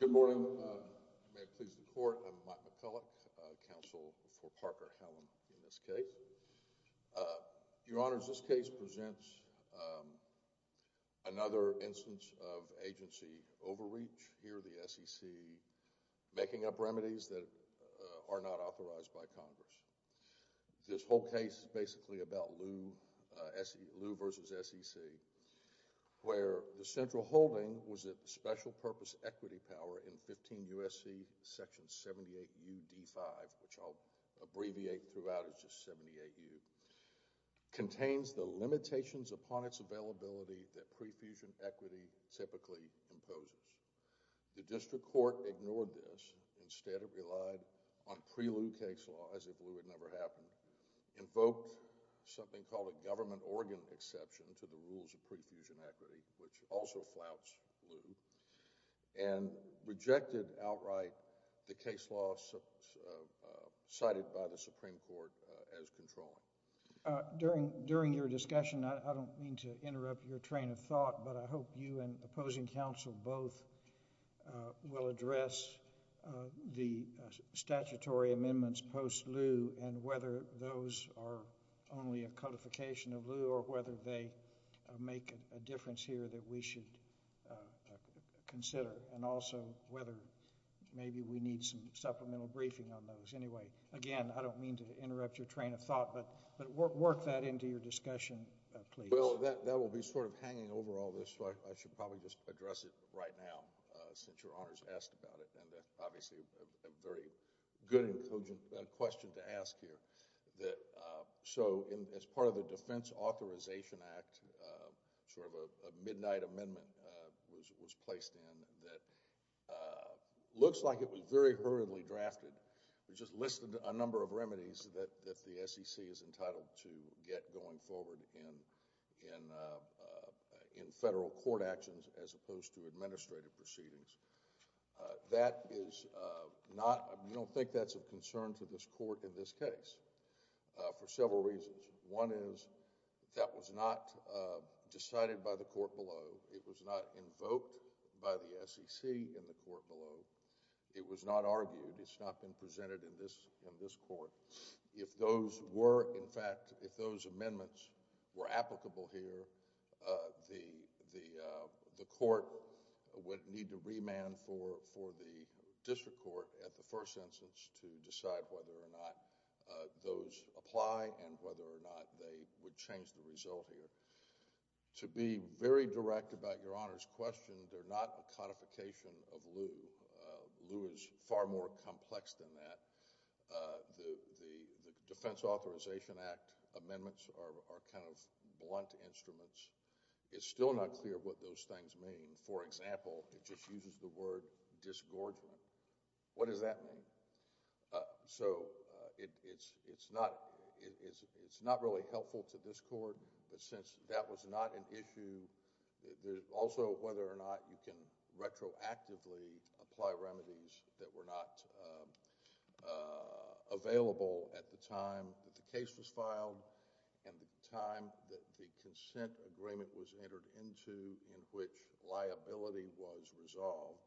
Good morning. May it please the Court, I'm Mike McCulloch, Counsel for Parker Hallam in this case. Your Honors, this case presents another instance of agency overreach. Here the SEC making up remedies that are not authorized by Congress. This whole case is basically about Lew v. SEC, where the central holding was that the special purpose equity power in 15 U.S.C. Section 78U.D.5, which I'll abbreviate throughout as just 78U, contains the limitations upon its availability that prefusion equity typically imposes. The District of Columbia, which is the only state in the United States, has a government organ exception to the rules of prefusion equity, which also flouts Lew, and rejected outright the case law cited by the Supreme Court as controlling. During your discussion, I don't mean to interrupt your train of thought, but I hope you and opposing counsel both will address the statutory amendments post-Lew, and whether those are only a codification of Lew, or whether they make a difference here that we should consider, and also whether maybe we need some supplemental briefing on those. Anyway, again, I don't mean to interrupt your train of thought, but work that into your discussion, please. Well, that will be sort of hanging over all this, so I should probably just address it right now, since Your Honors asked about it, and that's obviously a very good and cogent question to ask here. So, as part of the Defense Authorization Act, sort of a midnight amendment was placed in that looks like it was very hurriedly drafted. It just listed a number of remedies that the SEC is entitled to get going forward in federal court actions, as opposed to administrative proceedings. That is not... I don't think that's of concern to this Court in this case, for several reasons. One is, that was not decided by the Court below. It was not invoked by the SEC in the Court below. It was not argued. It's not been presented in this Court. If those were, in fact, if those amendments were applicable here, the Court would need to remand for the district court at the first instance to decide whether or not those apply and whether or not they would change the result here. To be very direct about Your Honors' question, they're not a codification of blunt instruments. It's still not clear what those things mean. For example, it just uses the word disgorgement. What does that mean? So, it's not really helpful to this Court, but since that was not an issue, also whether or not you can retroactively apply remedies that were not available at the time that the case was filed and the time that the consent agreement was entered into in which liability was resolved,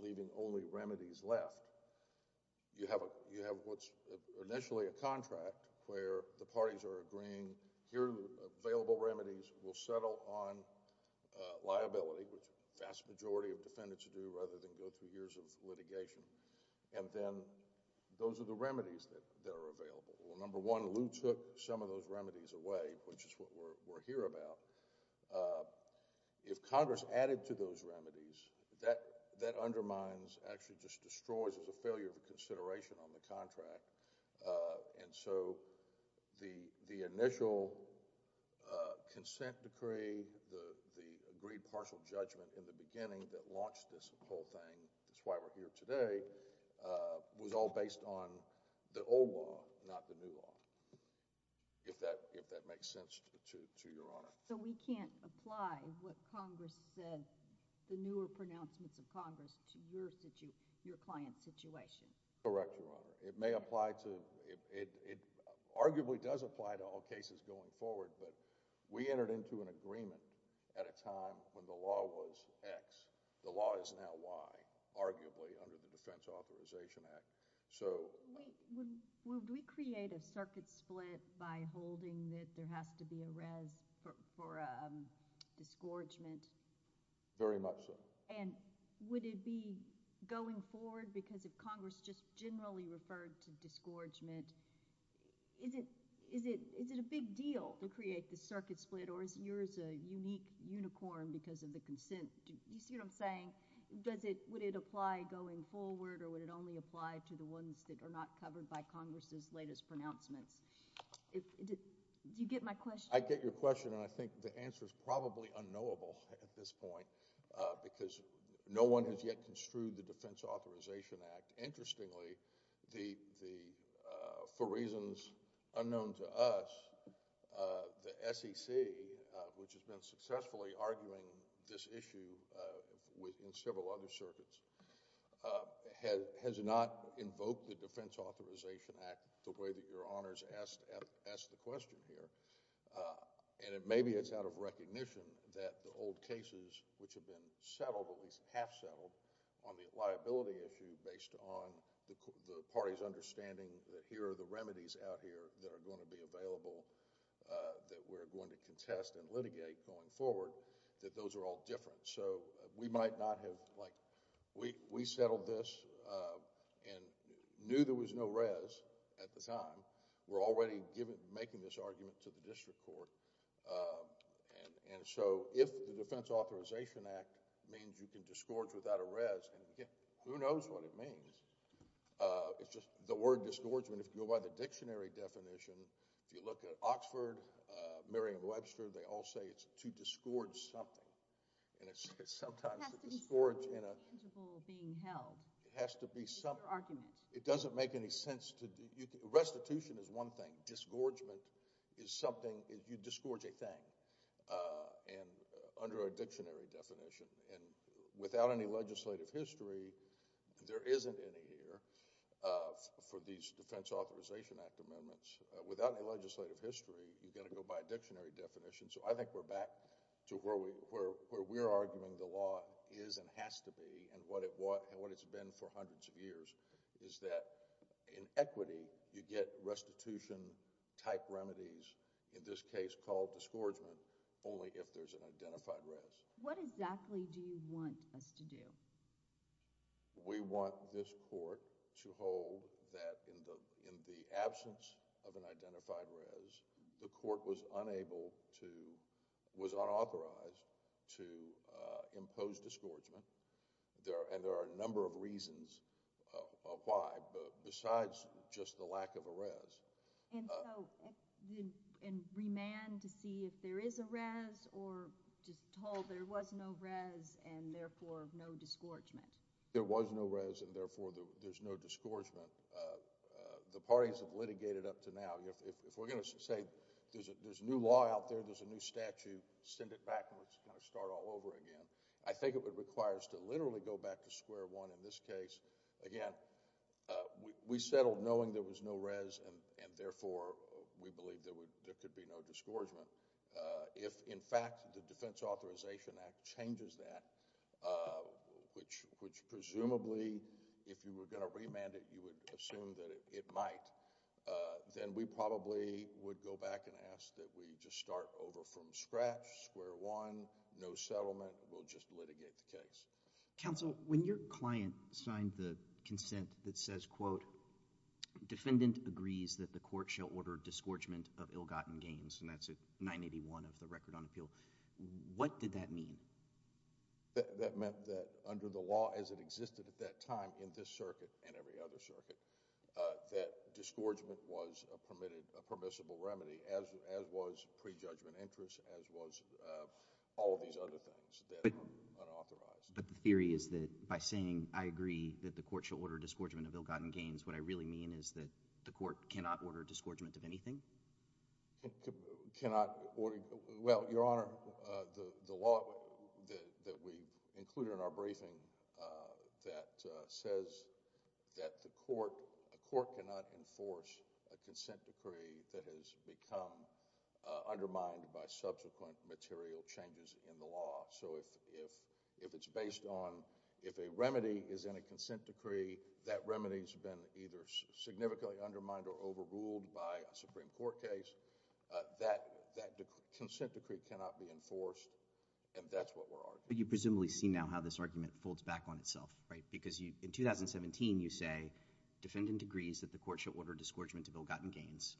leaving only remedies left. You have what's initially a contract where the parties are agreeing, here are available remedies. We'll settle on liability, which the vast majority of defendants do, rather than go through years of litigation. And then, those are the remedies that are available. Number one, Lew took some of those remedies away, which is what we're here about. If Congress added to those remedies, that undermines, actually just destroys as a failure of consideration on the contract. And so, the initial consent decree, the agreed partial judgment in the thing, that's why we're here today, was all based on the old law, not the new law, if that makes sense to Your Honor. So, we can't apply what Congress said, the newer pronouncements of Congress, to your client's situation? Correct, Your Honor. It may apply to... it arguably does apply to all cases going forward, but we entered into an agreement at a time when the law was X, the law is now Y, arguably under the Defense Authorization Act. So... Would we create a circuit split by holding that there has to be a res for a disgorgement? Very much so. And would it be going forward, because if Congress just generally referred to disgorgement, is it a big deal to create this circuit split, or is yours a unique unicorn because of the consent... you see what I'm saying? Does it... would it apply going forward, or would it only apply to the ones that are not covered by Congress's latest pronouncements? Do you get my question? I get your question, and I think the answer is probably unknowable at this point, because no one has yet construed the Defense Authorization Act. Interestingly, the... for reasons unknown to us, the SEC, which has been successfully arguing this issue in several other circuits, has not invoked the Defense Authorization Act the way that Your Honors asked the question here. And maybe it's out of recognition that the old cases, which have been settled, at least half settled, on the liability issue based on the party's understanding that here are the remedies out here that are going to be available, that we're going to contest and litigate going forward, that those are all different. So we might not have... we settled this and knew there was no res at the time. We're already making this argument to the district court, and so if the Defense Authorization Act means you can disgorge without a res, who knows what it means? It's just the word disgorgement, if you go by the dictionary definition, if you look at Oxford, Merriam-Webster, they all say it's to disgorge something. And it's sometimes to disgorge in a... It has to be some tangible being held. It has to be some... It's your argument. It doesn't make any sense to... restitution is one thing. Disgorgement is something... you disgorge a thing under a dictionary definition. And without any legislative history, there for these Defense Authorization Act amendments, without any legislative history, you've got to go by a dictionary definition. So I think we're back to where we're arguing the law is and has to be, and what it's been for hundreds of years, is that in equity, you get restitution type remedies, in this case called disgorgement, only if there's an identified res. What exactly do you want us to do? We want this court to hold that in the absence of an identified res, the court was unable to... was unauthorized to impose disgorgement. And there are a number of reasons why, besides just the lack of a res. And so... and remand to see if there is a res or just told there was no res and therefore no disgorgement? There was no res and therefore there's no disgorgement. The parties have litigated up to now. If we're going to say there's a new law out there, there's a new statute, send it back and we're going to start all over again. I think it would require us to literally go back to square one in this case. Again, we settled knowing there was no res and therefore we believe there could be no disgorgement. If in fact the Defense Authorization Act changes that, which presumably if you were going to remand it, you would assume that it might, then we probably would go back and ask that we just start over from scratch, square one, no settlement, we'll just litigate the case. Counsel, when your client signed the consent that says, quote, defendant agrees that the court shall order disgorgement of ill-gotten gains, and that's at 981 of the record on appeal, what did that mean? That meant that under the law as it existed at that time in this circuit and every other circuit, that disgorgement was a permissible remedy as was prejudgment interest, as was all of these other things that are unauthorized. But the theory is that by saying, I agree that the court shall order disgorgement of ill-gotten gains, what I really mean is that the court cannot order disgorgement of anything? Cannot order, well, Your Honor, the law that we've included in our briefing that says that the court cannot enforce a consent decree that has become undermined by subsequent material changes in the law. So if it's based on, if a remedy is in a consent decree, that remedy's been either significantly undermined or overruled by a Supreme Court case, that consent decree cannot be enforced, and that's what we're arguing. You presumably see now how this argument folds back on itself, right? Because in 2017, you say, defendant agrees that the court shall order disgorgement of ill-gotten gains.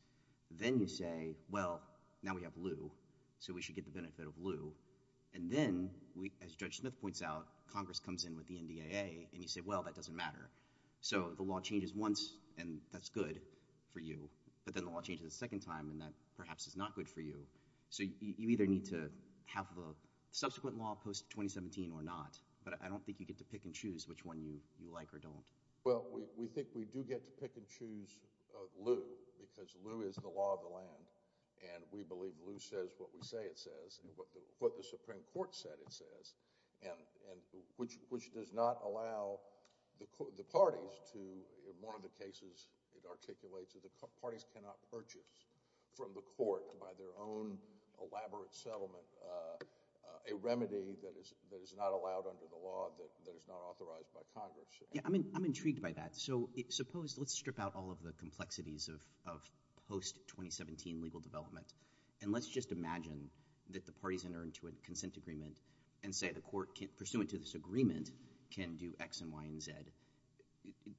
Then you say, well, now we have Lew, so we should get the benefit of Lew. And then, as Judge Smith points out, Congress comes in with the NDAA, and you say, well, that doesn't matter. So the law changes once, and that's good for you, but then the law changes a second time, and that perhaps is not good for you. So you either need to have a subsequent law post-2017 or not, but I don't think you get to pick and choose which one you like or don't. Well, we think we do get to pick and choose Lew, because Lew is the law of the land, and we believe Lew says what we say it says and what the Supreme Court said it says, and which does not allow the parties to, in one of the cases it articulates, that the parties cannot purchase from the court, by their own elaborate settlement, a remedy that is not allowed under the law, that is not authorized by Congress. Yeah, I'm intrigued by that. So suppose, let's strip out all of the complexities of post-2017 legal development, and let's just imagine that the parties enter into a consent agreement and say the court, pursuant to this agreement, can do X and Y and Z.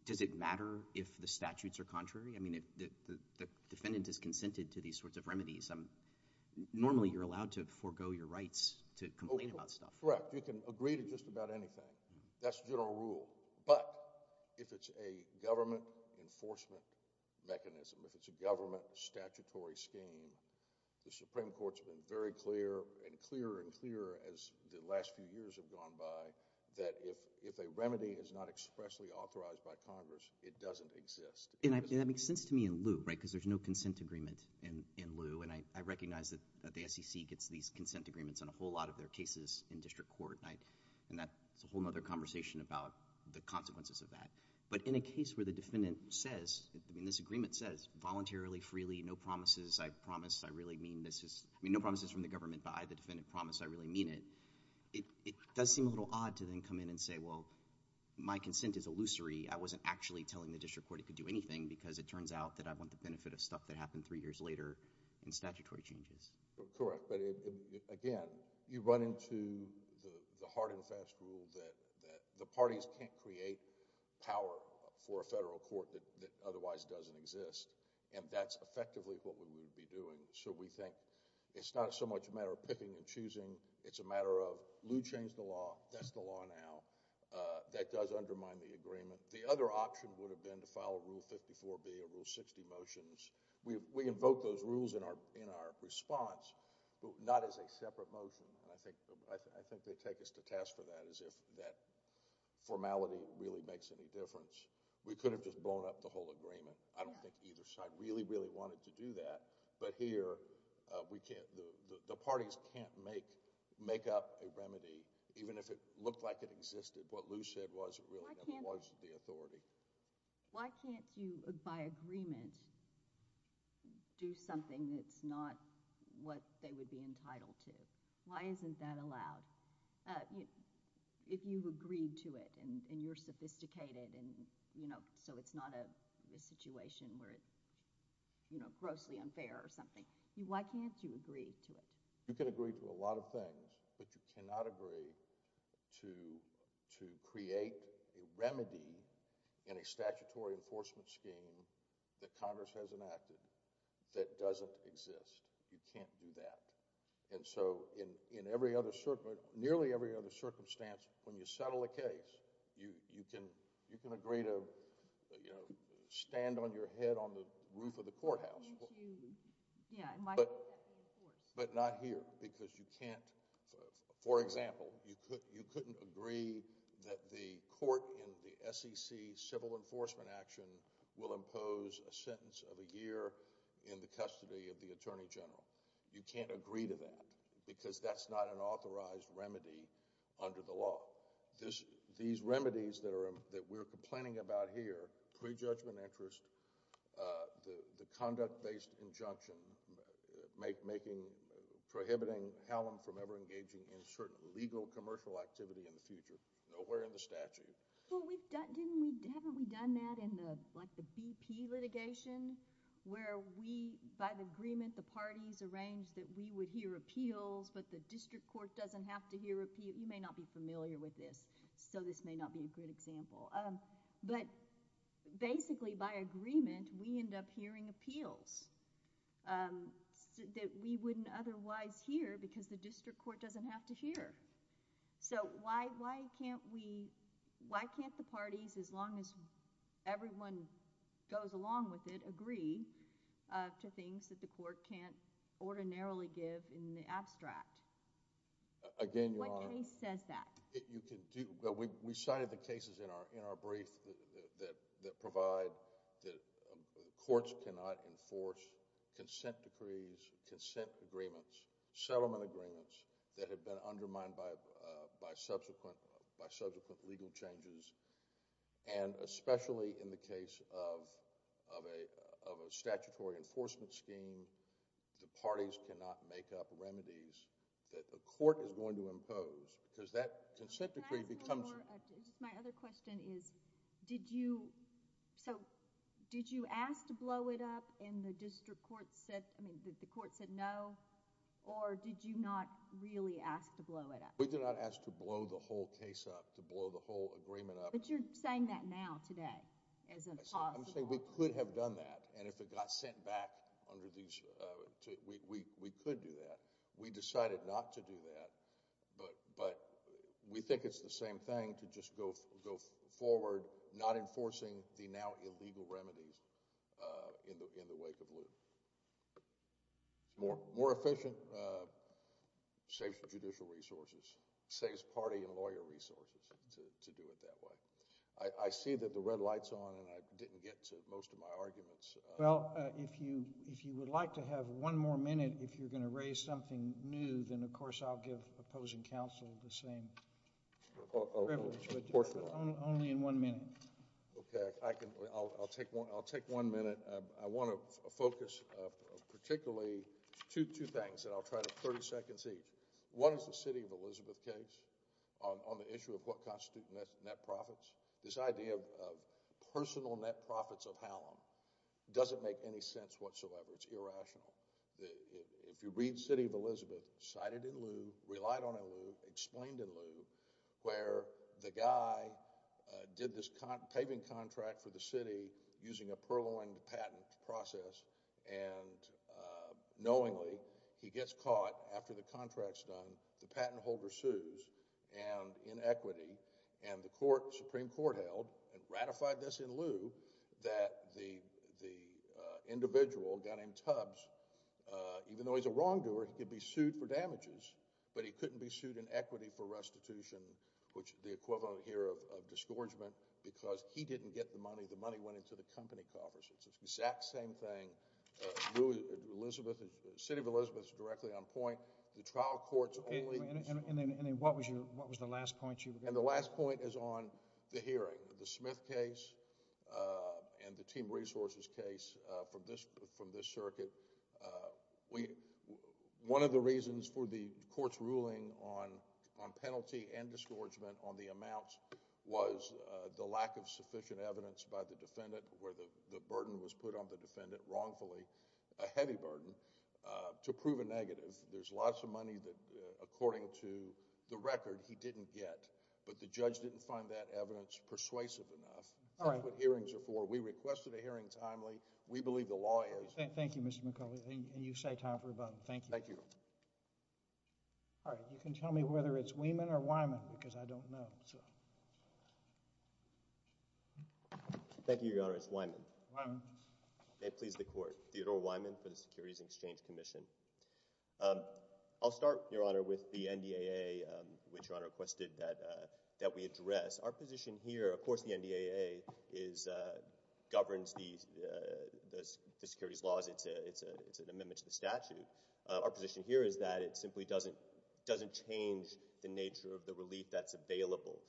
Does it matter if the statutes are contrary? I mean, if the defendant is consented to these sorts of remedies, normally you're allowed to forego your rights to complain about stuff. Correct. You can agree to just about anything. That's general rule. But, if it's a government enforcement mechanism, if it's a government statutory scheme, the Supreme Court's been very clear, and clearer and clearer as the last few years have gone by, that if a remedy is not expressly authorized by Congress, it doesn't exist. And that makes sense to me in Lew, right, because there's no consent agreement in Lew, and I recognize that the SEC gets these consent agreements on a whole lot of their cases in the district court, and that's a whole other conversation about the consequences of that. But, in a case where the defendant says, I mean, this agreement says, voluntarily, freely, no promises, I promise, I really mean this, I mean, no promises from the government, but I, the defendant, promise I really mean it, it does seem a little odd to then come in and say, well, my consent is illusory. I wasn't actually telling the district court it could do anything because it turns out that I want the benefit of stuff that happened three years later in statutory changes. Correct. But, again, you run into the hard and fast rule that the parties can't create power for a federal court that otherwise doesn't exist, and that's effectively what we would be doing. So we think it's not so much a matter of picking and choosing, it's a matter of Lew changed the law, that's the law now, that does undermine the agreement. The other option would have been to file Rule 54B or Rule 60 motions. We invoke those rules in our response, but not as a separate motion. I think they take us to task for that as if that formality really makes any difference. We could have just blown up the whole agreement. I don't think either side really, really wanted to do that, but here, we can't, the parties can't make up a remedy, even if it looked like it existed. What Lew said was it really never was the authority. Why can't you, by agreement, do something that's not what they would be entitled to? Why isn't that allowed? If you agreed to it, and you're sophisticated, so it's not a situation where it's grossly unfair or something, why can't you agree to it? You can agree to a lot of things, but you cannot agree to create a remedy in a statutory enforcement scheme that Congress has enacted that doesn't exist. You can't do that. And so, in nearly every other circumstance, when you settle a case, you can agree to stand on your head on the roof of the courthouse. But not here, because you can't, for example, you couldn't agree that the court in the SEC civil enforcement action will impose a sentence of a year in the custody of the Attorney General. You can't agree to that, because that's not an authorized remedy under the law. These remedies that we're complaining about here, pre-judgment interest, the conduct-based injunction prohibiting Hallam from ever engaging in certain legal commercial activity in the future, nowhere in the statute. Well, haven't we done that in the BP litigation, where we, by agreement, the parties arranged that we would hear appeals, but the district court doesn't have to hear appeals. You may not be familiar with this, so this may not be a good example. But, basically, by agreement, we end up hearing appeals that we wouldn't otherwise hear, because the district court doesn't have to hear. So, why can't we, why can't the parties, as long as everyone goes along with it, agree to things that the court can't ordinarily give in the abstract? Again, Your Honor. What case says that? We cited the cases in our brief that provide that courts cannot enforce consent decrees, consent agreements, settlement agreements that have been undermined by subsequent legal changes, and especially in the case of a statutory enforcement scheme, the parties cannot make up remedies that the court is going to impose, because that consent decree becomes... Can I ask one more, just my other question is, did you, so, did you ask to blow it up and the district court said, I mean, the court said no, or did you not really ask to blow it up? We did not ask to blow the whole case up, to blow the whole agreement up. But you're saying that now, today, as a possible... We decided not to do that, but we think it's the same thing to just go forward not enforcing the now illegal remedies in the wake of Lew. It's more efficient, saves judicial resources, saves party and lawyer resources to do it that way. I see that the red light's on and I didn't get to most of my arguments. Well, if you, if you would like to have one more minute, if you're going to raise something new, then of course I'll give opposing counsel the same privilege, but only in one minute. Okay, I can, I'll take one, I'll take one minute. I want to focus particularly, two things that I'll try to, 30 seconds each. One is the city of Elizabeth case on the issue of what constitutes net profits. This idea of personal net profits of Hallam doesn't make any sense whatsoever. It's irrational. If you read city of Elizabeth, cited in Lew, relied on in Lew, explained in Lew, where the guy did this paving contract for the city using a purloined patent process and knowingly he gets caught after the contract's done. The patent holder sues and in equity and the court, Supreme Court held and ratified this in Lew that the, the individual, a guy named Tubbs, even though he's a wrongdoer, he could be sued for damages, but he couldn't be sued in equity for restitution, which the equivalent here of, of disgorgement because he didn't get the money. The money went into the company coffers. It's the exact same thing. Lew, Elizabeth, city of Elizabeth is directly on point. The trial courts only... And then what was your, what was the last point you were going to make? And the last point is on the hearing, the Smith case and the team resources case from this, from this circuit. We, one of the reasons for the court's ruling on, on penalty and disgorgement on the amounts was the lack of sufficient evidence by the defendant where the, the burden was put on the defendant wrongfully, a heavy burden, to prove a negative. There's lots of money that according to the record he didn't get, but the judge didn't find that evidence persuasive enough. All right. That's what hearings are for. We requested a hearing timely. We believe the law is... Thank you, Mr. McCulley. And you say time for rebuttal. Thank you. Thank you. All right. You can tell me whether it's Wieman or Wieman because I don't know, so... Thank you, Your Honor. It's Wieman. Wieman. May it please the Court. Theodore Wieman for the Securities and Exchange Commission. Thank you. I'll start, Your Honor, with the NDAA, which Your Honor requested that, that we address. Our position here, of course the NDAA is, governs the, the, the securities laws. It's a, it's a, it's an amendment to the statute. Our position here is that it simply doesn't, doesn't change the nature of the relief that's available.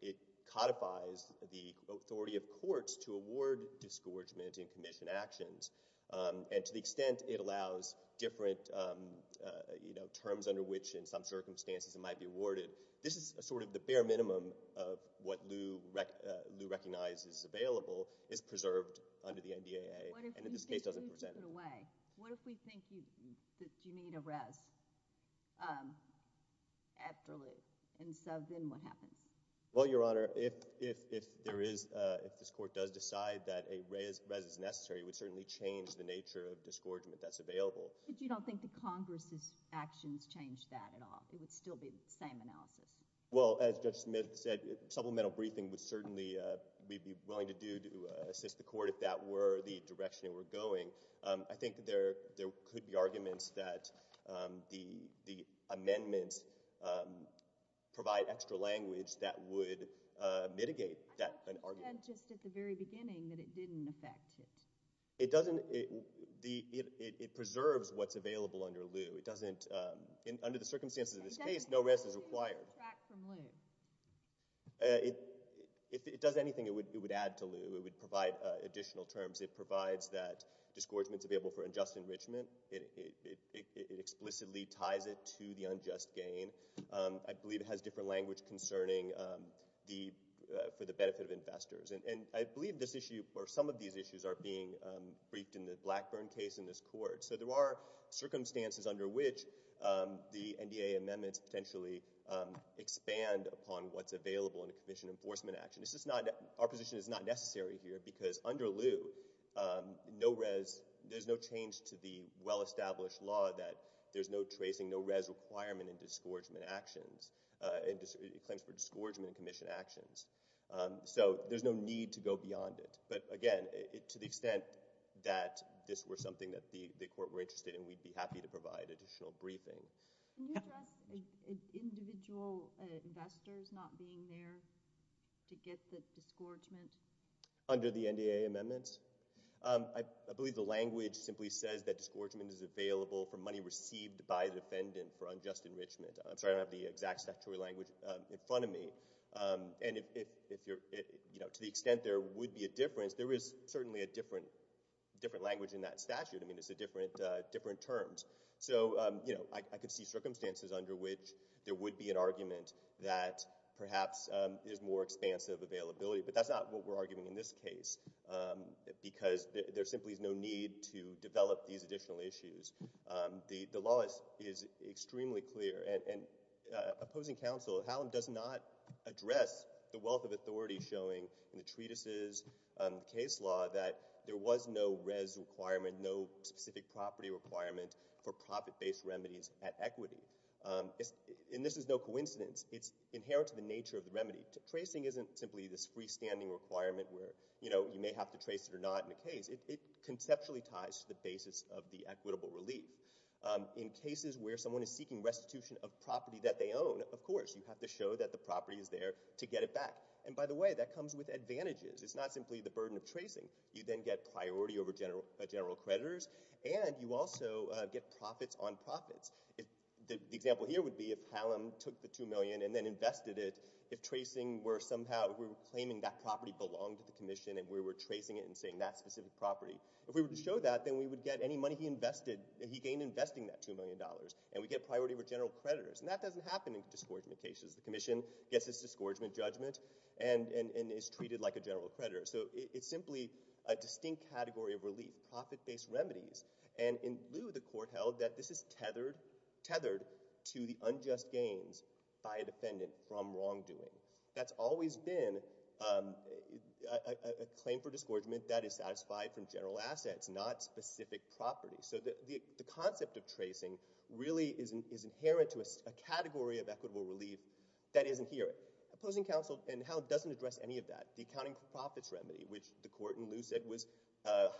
It codifies the authority of courts to award disgorgement and commission actions. And to the extent it allows different, you know, terms under which in some circumstances it might be awarded. This is sort of the bare minimum of what Lew, Lew recognizes is available, is preserved under the NDAA. And in this case doesn't present... What if we think you need to put it away? What if we think you, that you need a res after Lew? And so then what happens? Well, Your Honor, if, if, if there is, if this Court does decide that a res, res is necessary, it would certainly change the nature of disgorgement that's available. But you don't think the Congress's actions change that at all? It would still be the same analysis? Well, as Judge Smith said, supplemental briefing would certainly, we'd be willing to do to assist the Court if that were the direction we're going. I think there, there could be arguments that the, the amendments provide extra language that would mitigate that argument. But you said just at the very beginning that it didn't affect it. It doesn't, it, the, it, it preserves what's available under Lew. It doesn't, in, under the circumstances of this case, no res is required. And does Lew subtract from Lew? It, if it does anything, it would, it would add to Lew. It would provide additional terms. It provides that disgorgement's available for unjust enrichment. It, it, it, it explicitly ties it to the unjust gain. I believe it has different language concerning the, for the benefit of investors. And, and I believe this issue or some of these issues are being briefed in the Blackburn case in this Court. So there are circumstances under which the NDA amendments potentially expand upon what's available in a commission enforcement action. This is not, our position is not necessary here because under Lew, no res, there's no change to the well-established law that there's no tracing, no res requirement in disgorgement actions, in claims for disgorgement in commission actions. So there's no need to go beyond it. But again, to the extent that this were something that the, the Court were interested in, we'd be happy to provide additional briefing. Can you address individual investors not being there to get the disgorgement? Under the NDA amendments? I, I believe the language simply says that disgorgement is available for money received by the defendant for unjust enrichment. I'm sorry, I don't have the exact statutory language in front of me. And if, if, if you're, you know, to the extent there would be a difference, there is certainly a different, different language in that statute. I mean, it's a different, different terms. So, you know, I, I could see circumstances under which there would be an argument that perhaps is more expansive availability. But that's not what we're arguing in this case. Because there simply is no need to develop these additional issues. The, the law is, is extremely clear. And, and opposing counsel, Hallam does not address the wealth of authority showing in the treatises, the case law that there was no res requirement, no specific property requirement for profit-based remedies at equity. And this is no coincidence. It's inherent to the nature of the remedy. Tracing isn't simply this freestanding requirement where, you know, you may have to trace it or not in a case. It, it conceptually ties to the basis of the equitable relief. In cases where someone is seeking restitution of property that they own, of course, you have to show that the property is there to get it back. And by the way, that comes with advantages. It's not simply the burden of tracing. You then get priority over general, general creditors. And you also get profits on profits. The example here would be if Hallam took the $2 million and then invested it, if tracing were somehow, if we were claiming that property belonged to the commission and we were tracing it and saying that specific property. If we were to show that, then we would get any money he invested, he gained investing that $2 million. And we get priority over general creditors. And that doesn't happen in disgorgement cases. The commission gets its disgorgement judgment and, and, and is treated like a general creditor. So it's simply a distinct category of relief, profit-based remedies. And in Lieu, the court held that this is tethered, tethered to the unjust gains by a defendant from wrongdoing. That's always been a claim for disgorgement that is satisfied from general assets, not specific property. So the concept of tracing really is inherent to a category of equitable relief that isn't here. Opposing counsel in Hallam doesn't address any of that. The accounting for profits remedy, which the court in Lieu said was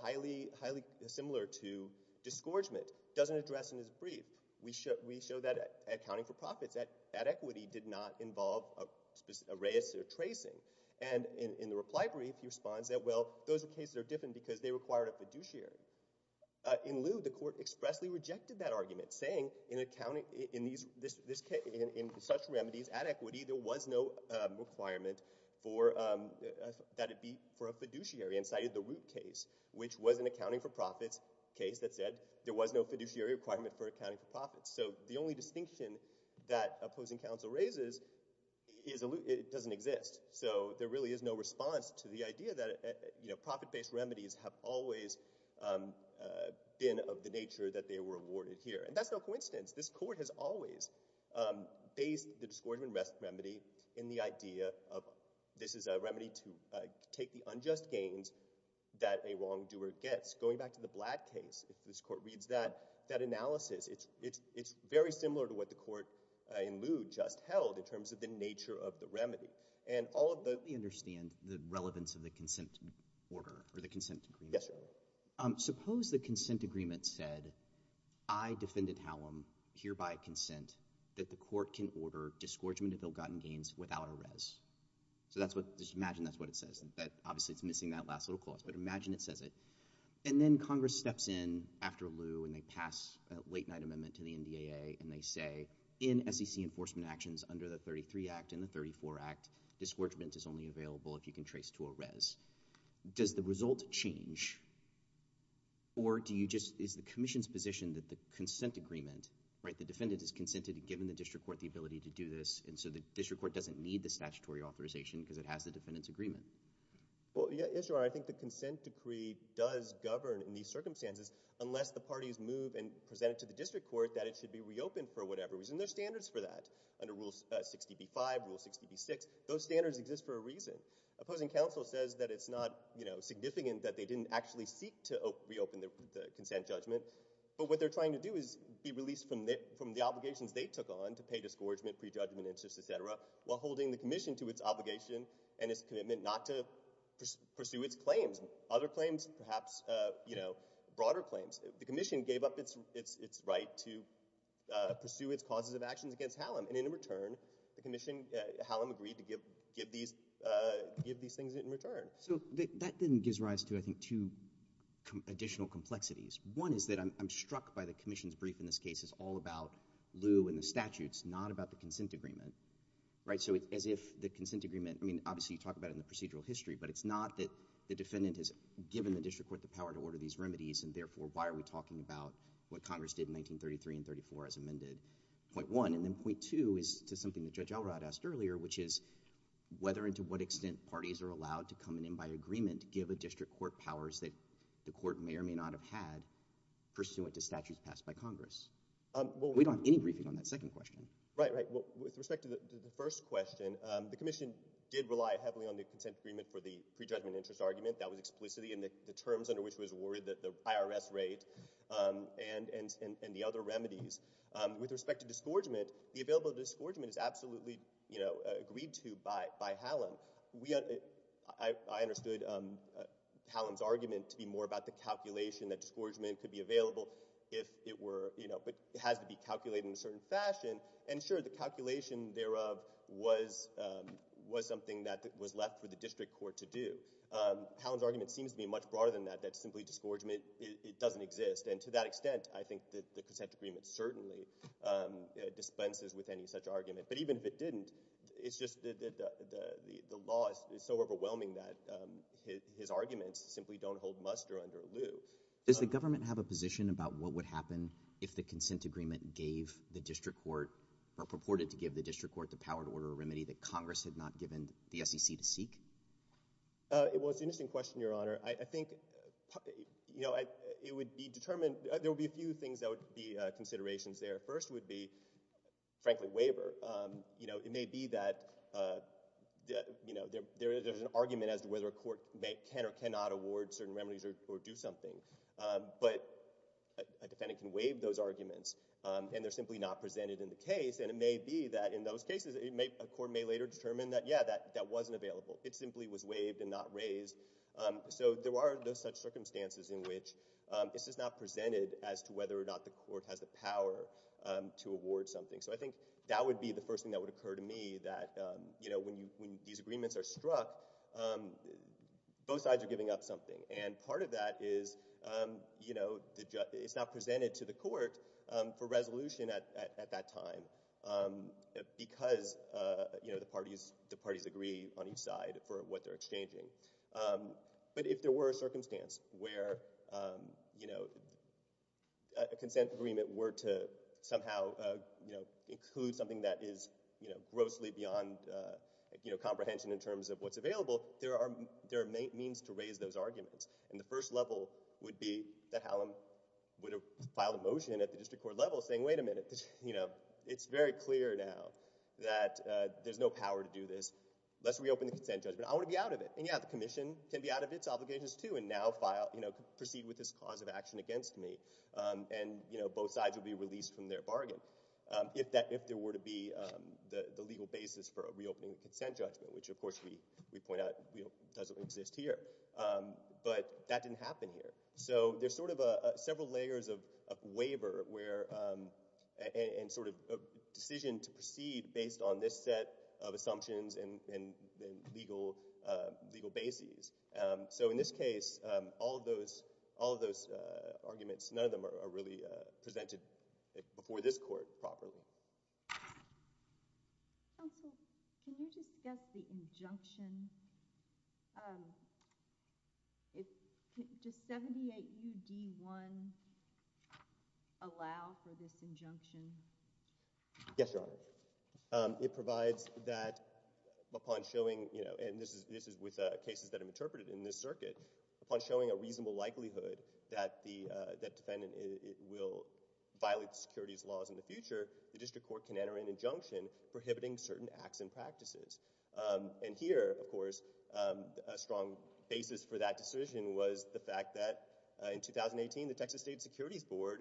highly, highly similar to disgorgement, doesn't address in his brief. We show that accounting for profits at equity did not involve a specific array of tracing. And in the reply brief, he responds that, well, those are cases that are different because they required a fiduciary. In Lieu, the court expressly rejected that argument, saying in accounting, in these, in such remedies at equity, there was no requirement that it be for a fiduciary and cited the Root case, which was an accounting for profits case that said there was no fiduciary requirement for accounting for profits. So the only distinction that opposing counsel raises is it doesn't exist. So there really is no response to the idea that profit-based remedies have always been of the nature that they were awarded here. And that's no coincidence. This court has always based the disgorgement remedy in the idea of this is a remedy to take the unjust gains that a wrongdoer gets. Going back to the Blatt case, if this court reads that analysis, it's very similar to what the court in Lieu just held in terms of the nature of the remedy. And all of the— Let me understand the relevance of the consent order or the consent agreement. Yes, sir. So suppose the consent agreement said, I, Defendant Hallam, hereby consent that the court can order disgorgement of ill-gotten gains without a res. So just imagine that's what it says. Obviously, it's missing that last little clause, but imagine it says it. And then Congress steps in after Lieu, and they pass a late-night amendment to the NDAA, and they say in SEC enforcement actions under the 33 Act and the 34 Act, disgorgement is only available if you can trace to a res. Does the result change, or do you just—is the commission's position that the consent agreement, right, the defendant has consented and given the district court the ability to do this, and so the district court doesn't need the statutory authorization because it has the defendant's agreement? Well, yes, Your Honor. I think the consent decree does govern in these circumstances unless the parties move and present it to the district court that it should be reopened for whatever reason. There are standards for that under Rule 60b-5, Rule 60b-6. Those standards exist for a reason. Opposing counsel says that it's not significant that they didn't actually seek to reopen the consent judgment. But what they're trying to do is be released from the obligations they took on to pay disgorgement, prejudgment, interest, et cetera, while holding the commission to its obligation and its commitment not to pursue its claims, other claims, perhaps broader claims. The commission gave up its right to pursue its causes of actions against Hallam. And in return, the commission—Hallam agreed to give these things in return. So that then gives rise to, I think, two additional complexities. One is that I'm struck by the commission's brief in this case is all about Lew and the statutes, not about the consent agreement, right? So as if the consent agreement—I mean, obviously you talk about it in the procedural history, but it's not that the defendant has given the district court the power to order these remedies, and therefore why are we talking about what Congress did in 1933 and 1934 as amended? Point one. And then point two is to something that Judge Elrod asked earlier, which is whether and to what extent parties are allowed to come in by agreement to give a district court powers that the court may or may not have had pursuant to statutes passed by Congress. We don't have any briefing on that second question. Right, right. Well, with respect to the first question, the commission did rely heavily on the consent agreement for the prejudgment interest argument. That was explicitly in the terms under which it was awarded the IRS rate and the other remedies. With respect to disgorgement, the available disgorgement is absolutely agreed to by Hallam. I understood Hallam's argument to be more about the calculation that disgorgement could be available if it were—but it has to be calculated in a certain fashion. And, sure, the calculation thereof was something that was left for the district court to do. Hallam's argument seems to be much broader than that, that simply disgorgement doesn't exist. And to that extent, I think that the consent agreement certainly dispenses with any such argument. But even if it didn't, it's just that the law is so overwhelming that his arguments simply don't hold muster under lieu. Does the government have a position about what would happen if the consent agreement gave the district court or purported to give the district court the power to order a remedy that Congress had not given the SEC to seek? Well, it's an interesting question, Your Honor. I think it would be determined—there would be a few things that would be considerations there. First would be, frankly, waiver. It may be that there's an argument as to whether a court can or cannot award certain remedies or do something. But a defendant can waive those arguments, and they're simply not presented in the case. And it may be that in those cases, a court may later determine that, yeah, that wasn't available. It simply was waived and not raised. So there are those such circumstances in which this is not presented as to whether or not the court has the power to award something. So I think that would be the first thing that would occur to me, that when these agreements are struck, both sides are giving up something. And part of that is it's not presented to the court for resolution at that time because the parties agree on each side for what they're exchanging. But if there were a circumstance where a consent agreement were to somehow include something that is grossly beyond comprehension in terms of what's available, there are means to raise those arguments. And the first level would be that Hallam would have filed a motion at the district court level saying, wait a minute. It's very clear now that there's no power to do this. Let's reopen the consent judgment. I want to be out of it. And, yeah, the commission can be out of its obligations too and now proceed with this cause of action against me. And both sides would be released from their bargain if there were to be the legal basis for reopening the consent judgment, which, of course, we point out doesn't exist here. But that didn't happen here. So there's sort of several layers of waiver and sort of decision to proceed based on this set of assumptions and legal basis. So in this case, all of those arguments, none of them are really presented before this court properly. Counsel, can you discuss the injunction? Does 78 U.D. 1 allow for this injunction? Yes, Your Honor. It provides that upon showing, and this is with cases that have been interpreted in this circuit, upon showing a reasonable likelihood that the defendant will violate the securities laws in the future, the district court can enter an injunction prohibiting certain acts and practices. And here, of course, a strong basis for that decision was the fact that in 2018, the Texas State Securities Board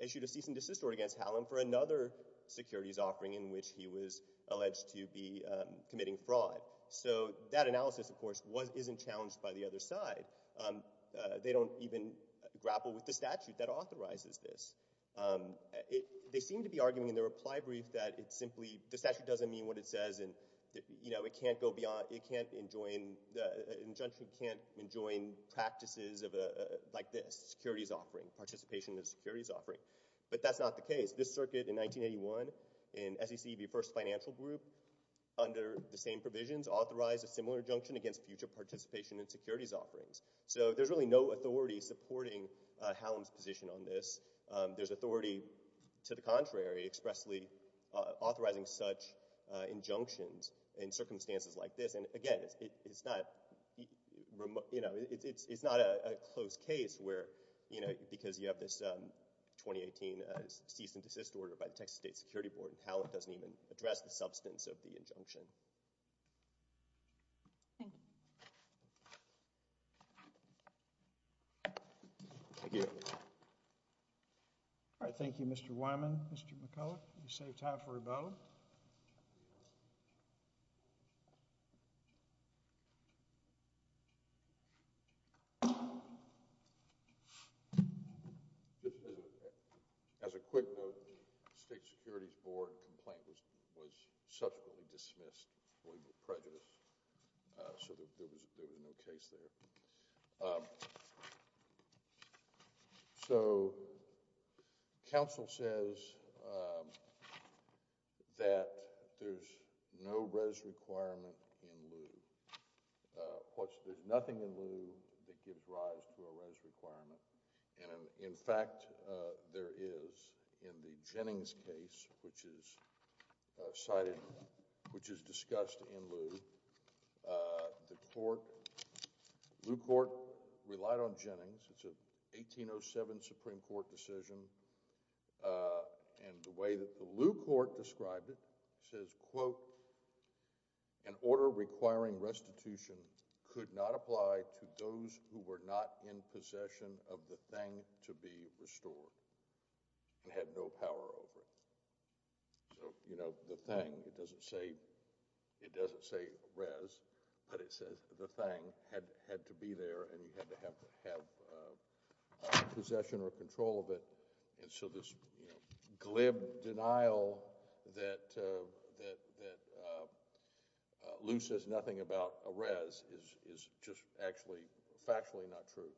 issued a cease and desist against Hallam for another securities offering in which he was alleged to be committing fraud. So that analysis, of course, isn't challenged by the other side. They don't even grapple with the statute that authorizes this. They seem to be arguing in the reply brief that it simply – the statute doesn't mean what it says. And it can't go beyond – it can't enjoin – the injunction can't enjoin practices like this, securities offering, participation in securities offering. But that's not the case. This circuit in 1981 in SEC v. First Financial Group, under the same provisions, authorized a similar injunction against future participation in securities offerings. So there's really no authority supporting Hallam's position on this. There's authority, to the contrary, expressly authorizing such injunctions in circumstances like this. And again, it's not – it's not a close case where – because you have this 2018 cease and desist order by the Texas State Security Board and Hallam doesn't even address the substance of the injunction. Thank you. All right, thank you, Mr. Wyman. Mr. McCullough, you saved time for rebuttal. As a quick note, the State Securities Board complaint was subsequently dismissed. We were prejudiced, so there was no case there. Thank you. So, counsel says that there's no res requirement in lieu. There's nothing in lieu that gives rise to a res requirement. And, in fact, there is. In the Jennings case, which is cited – which is discussed in lieu, the court – lieu court relied on Jennings. It's a 1807 Supreme Court decision. And the way that the lieu court described it says, quote, An order requiring restitution could not apply to those who were not in possession of the thing to be restored. It had no power over it. So, you know, the thing – it doesn't say – it doesn't say res, but it says the thing had to be there and you had to have possession or control of it. And so this glib denial that lieu says nothing about a res is just actually factually not true.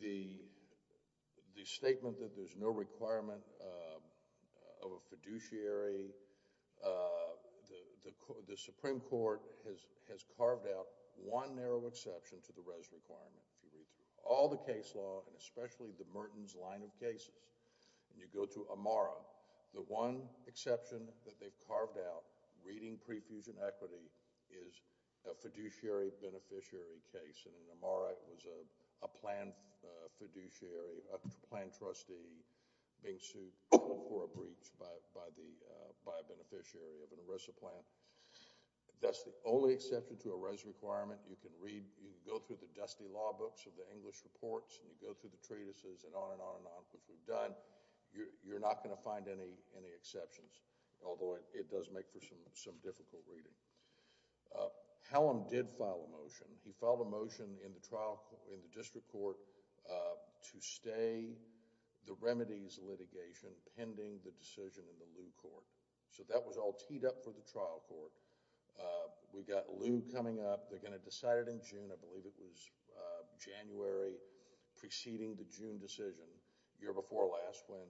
The statement that there's no requirement of a fiduciary – the Supreme Court has carved out one narrow exception to the res requirement. If you read through all the case law, and especially the Merton's line of cases, and you go to Amara, the one exception that they've carved out, reading pre-fusion equity, is a fiduciary beneficiary case. And in Amara, it was a planned fiduciary, a planned trustee, being sued for a breach by a beneficiary of an ERISA plan. That's the only exception to a res requirement. You can read – you can go through the dusty law books of the English reports, and you go through the treatises, and on and on and on, which we've done. You're not going to find any exceptions, although it does make for some difficult reading. Hallam did file a motion. He filed a motion in the trial – in the district court to stay the remedies litigation pending the decision in the lieu court. So that was all teed up for the trial court. We've got lieu coming up. They're going to decide it in June. I believe it was January preceding the June decision, year before last, when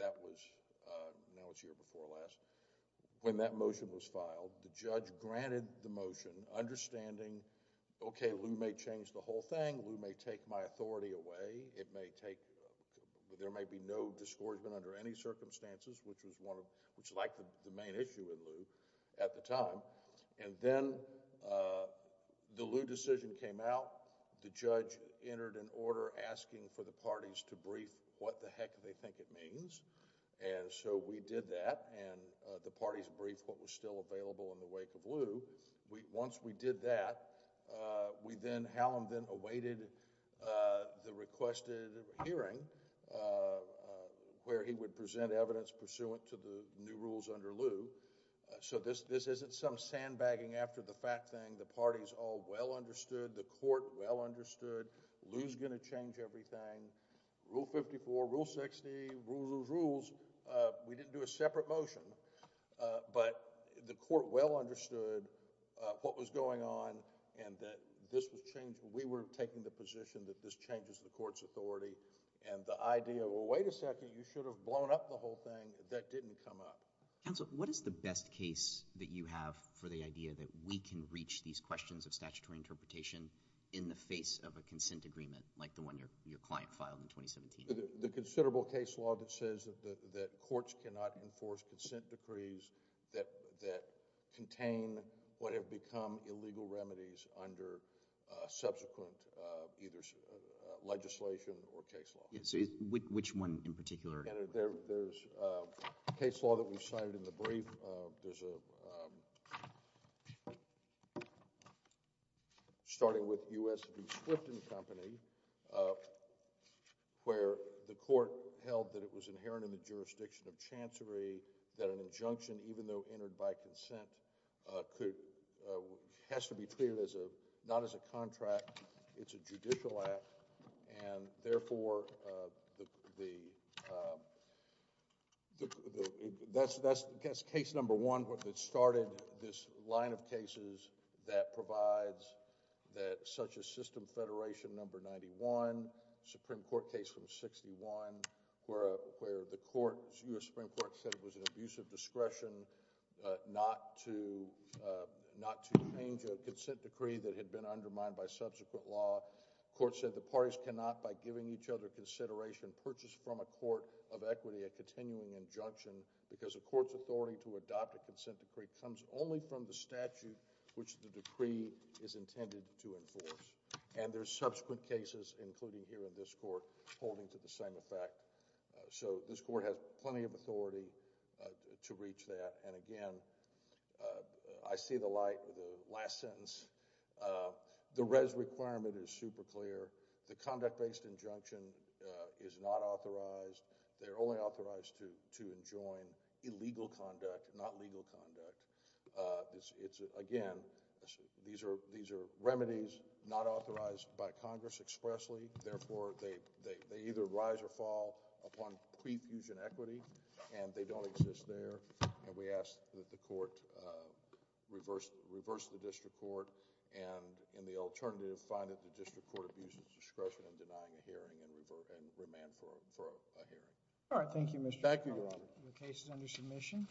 that was – now it's year before last. When that motion was filed, the judge granted the motion, understanding, okay, lieu may change the whole thing. Lieu may take my authority away. It may take – there may be no disgorgement under any circumstances, which was one of – which lacked the main issue in lieu at the time. And then the lieu decision came out. The judge entered an order asking for the parties to brief what the heck they think it means. And so we did that, and the parties briefed what was still available in the wake of lieu. Once we did that, we then – Hallam then awaited the requested hearing, where he would present evidence pursuant to the new rules under lieu. So this isn't some sandbagging after the fact thing. The parties all well understood. The court well understood. Lieu's going to change everything. Rule 54, Rule 60, rules, rules, rules. We didn't do a separate motion, but the court well understood what was going on and that this was – we were taking the position that this changes the court's authority. And the idea, well, wait a second, you should have blown up the whole thing. That didn't come up. Counsel, what is the best case that you have for the idea that we can reach these questions of statutory interpretation in the face of a consent agreement like the one your client filed in 2017? The considerable case law that says that courts cannot enforce consent decrees that contain what have become illegal remedies under subsequent either legislation or case law. Which one in particular? There's a case law that we've cited in the brief. There's a – starting with U.S. v. Swifton Company where the court held that it was inherent in the jurisdiction of chancery that an injunction, even though entered by consent, could – has to be treated as a – not as a contract. It's a judicial act. And, therefore, the – that's case number one that started this line of cases that provides that such a system federation number 91, Supreme Court case number 61, where the court – U.S. Supreme Court said it was an abuse of discretion not to change a consent decree that had been undermined by subsequent law. The court said the parties cannot, by giving each other consideration, purchase from a court of equity a continuing injunction because a court's authority to adopt a consent decree comes only from the statute which the decree is intended to enforce. And there's subsequent cases, including here in this court, holding to the same effect. So this court has plenty of authority to reach that. And, again, I see the light of the last sentence. The res requirement is super clear. The conduct-based injunction is not authorized. They're only authorized to enjoin illegal conduct, not legal conduct. It's – again, these are remedies not authorized by Congress expressly. Therefore, they either rise or fall upon pre-fusion equity, and they don't exist there. And we ask that the court reverse the district court and, in the alternative, find that the district court abuses discretion in denying a hearing and remand for a hearing. All right. Thank you, Mr. Chairman. Thank you, Your Honor. The case is under submission.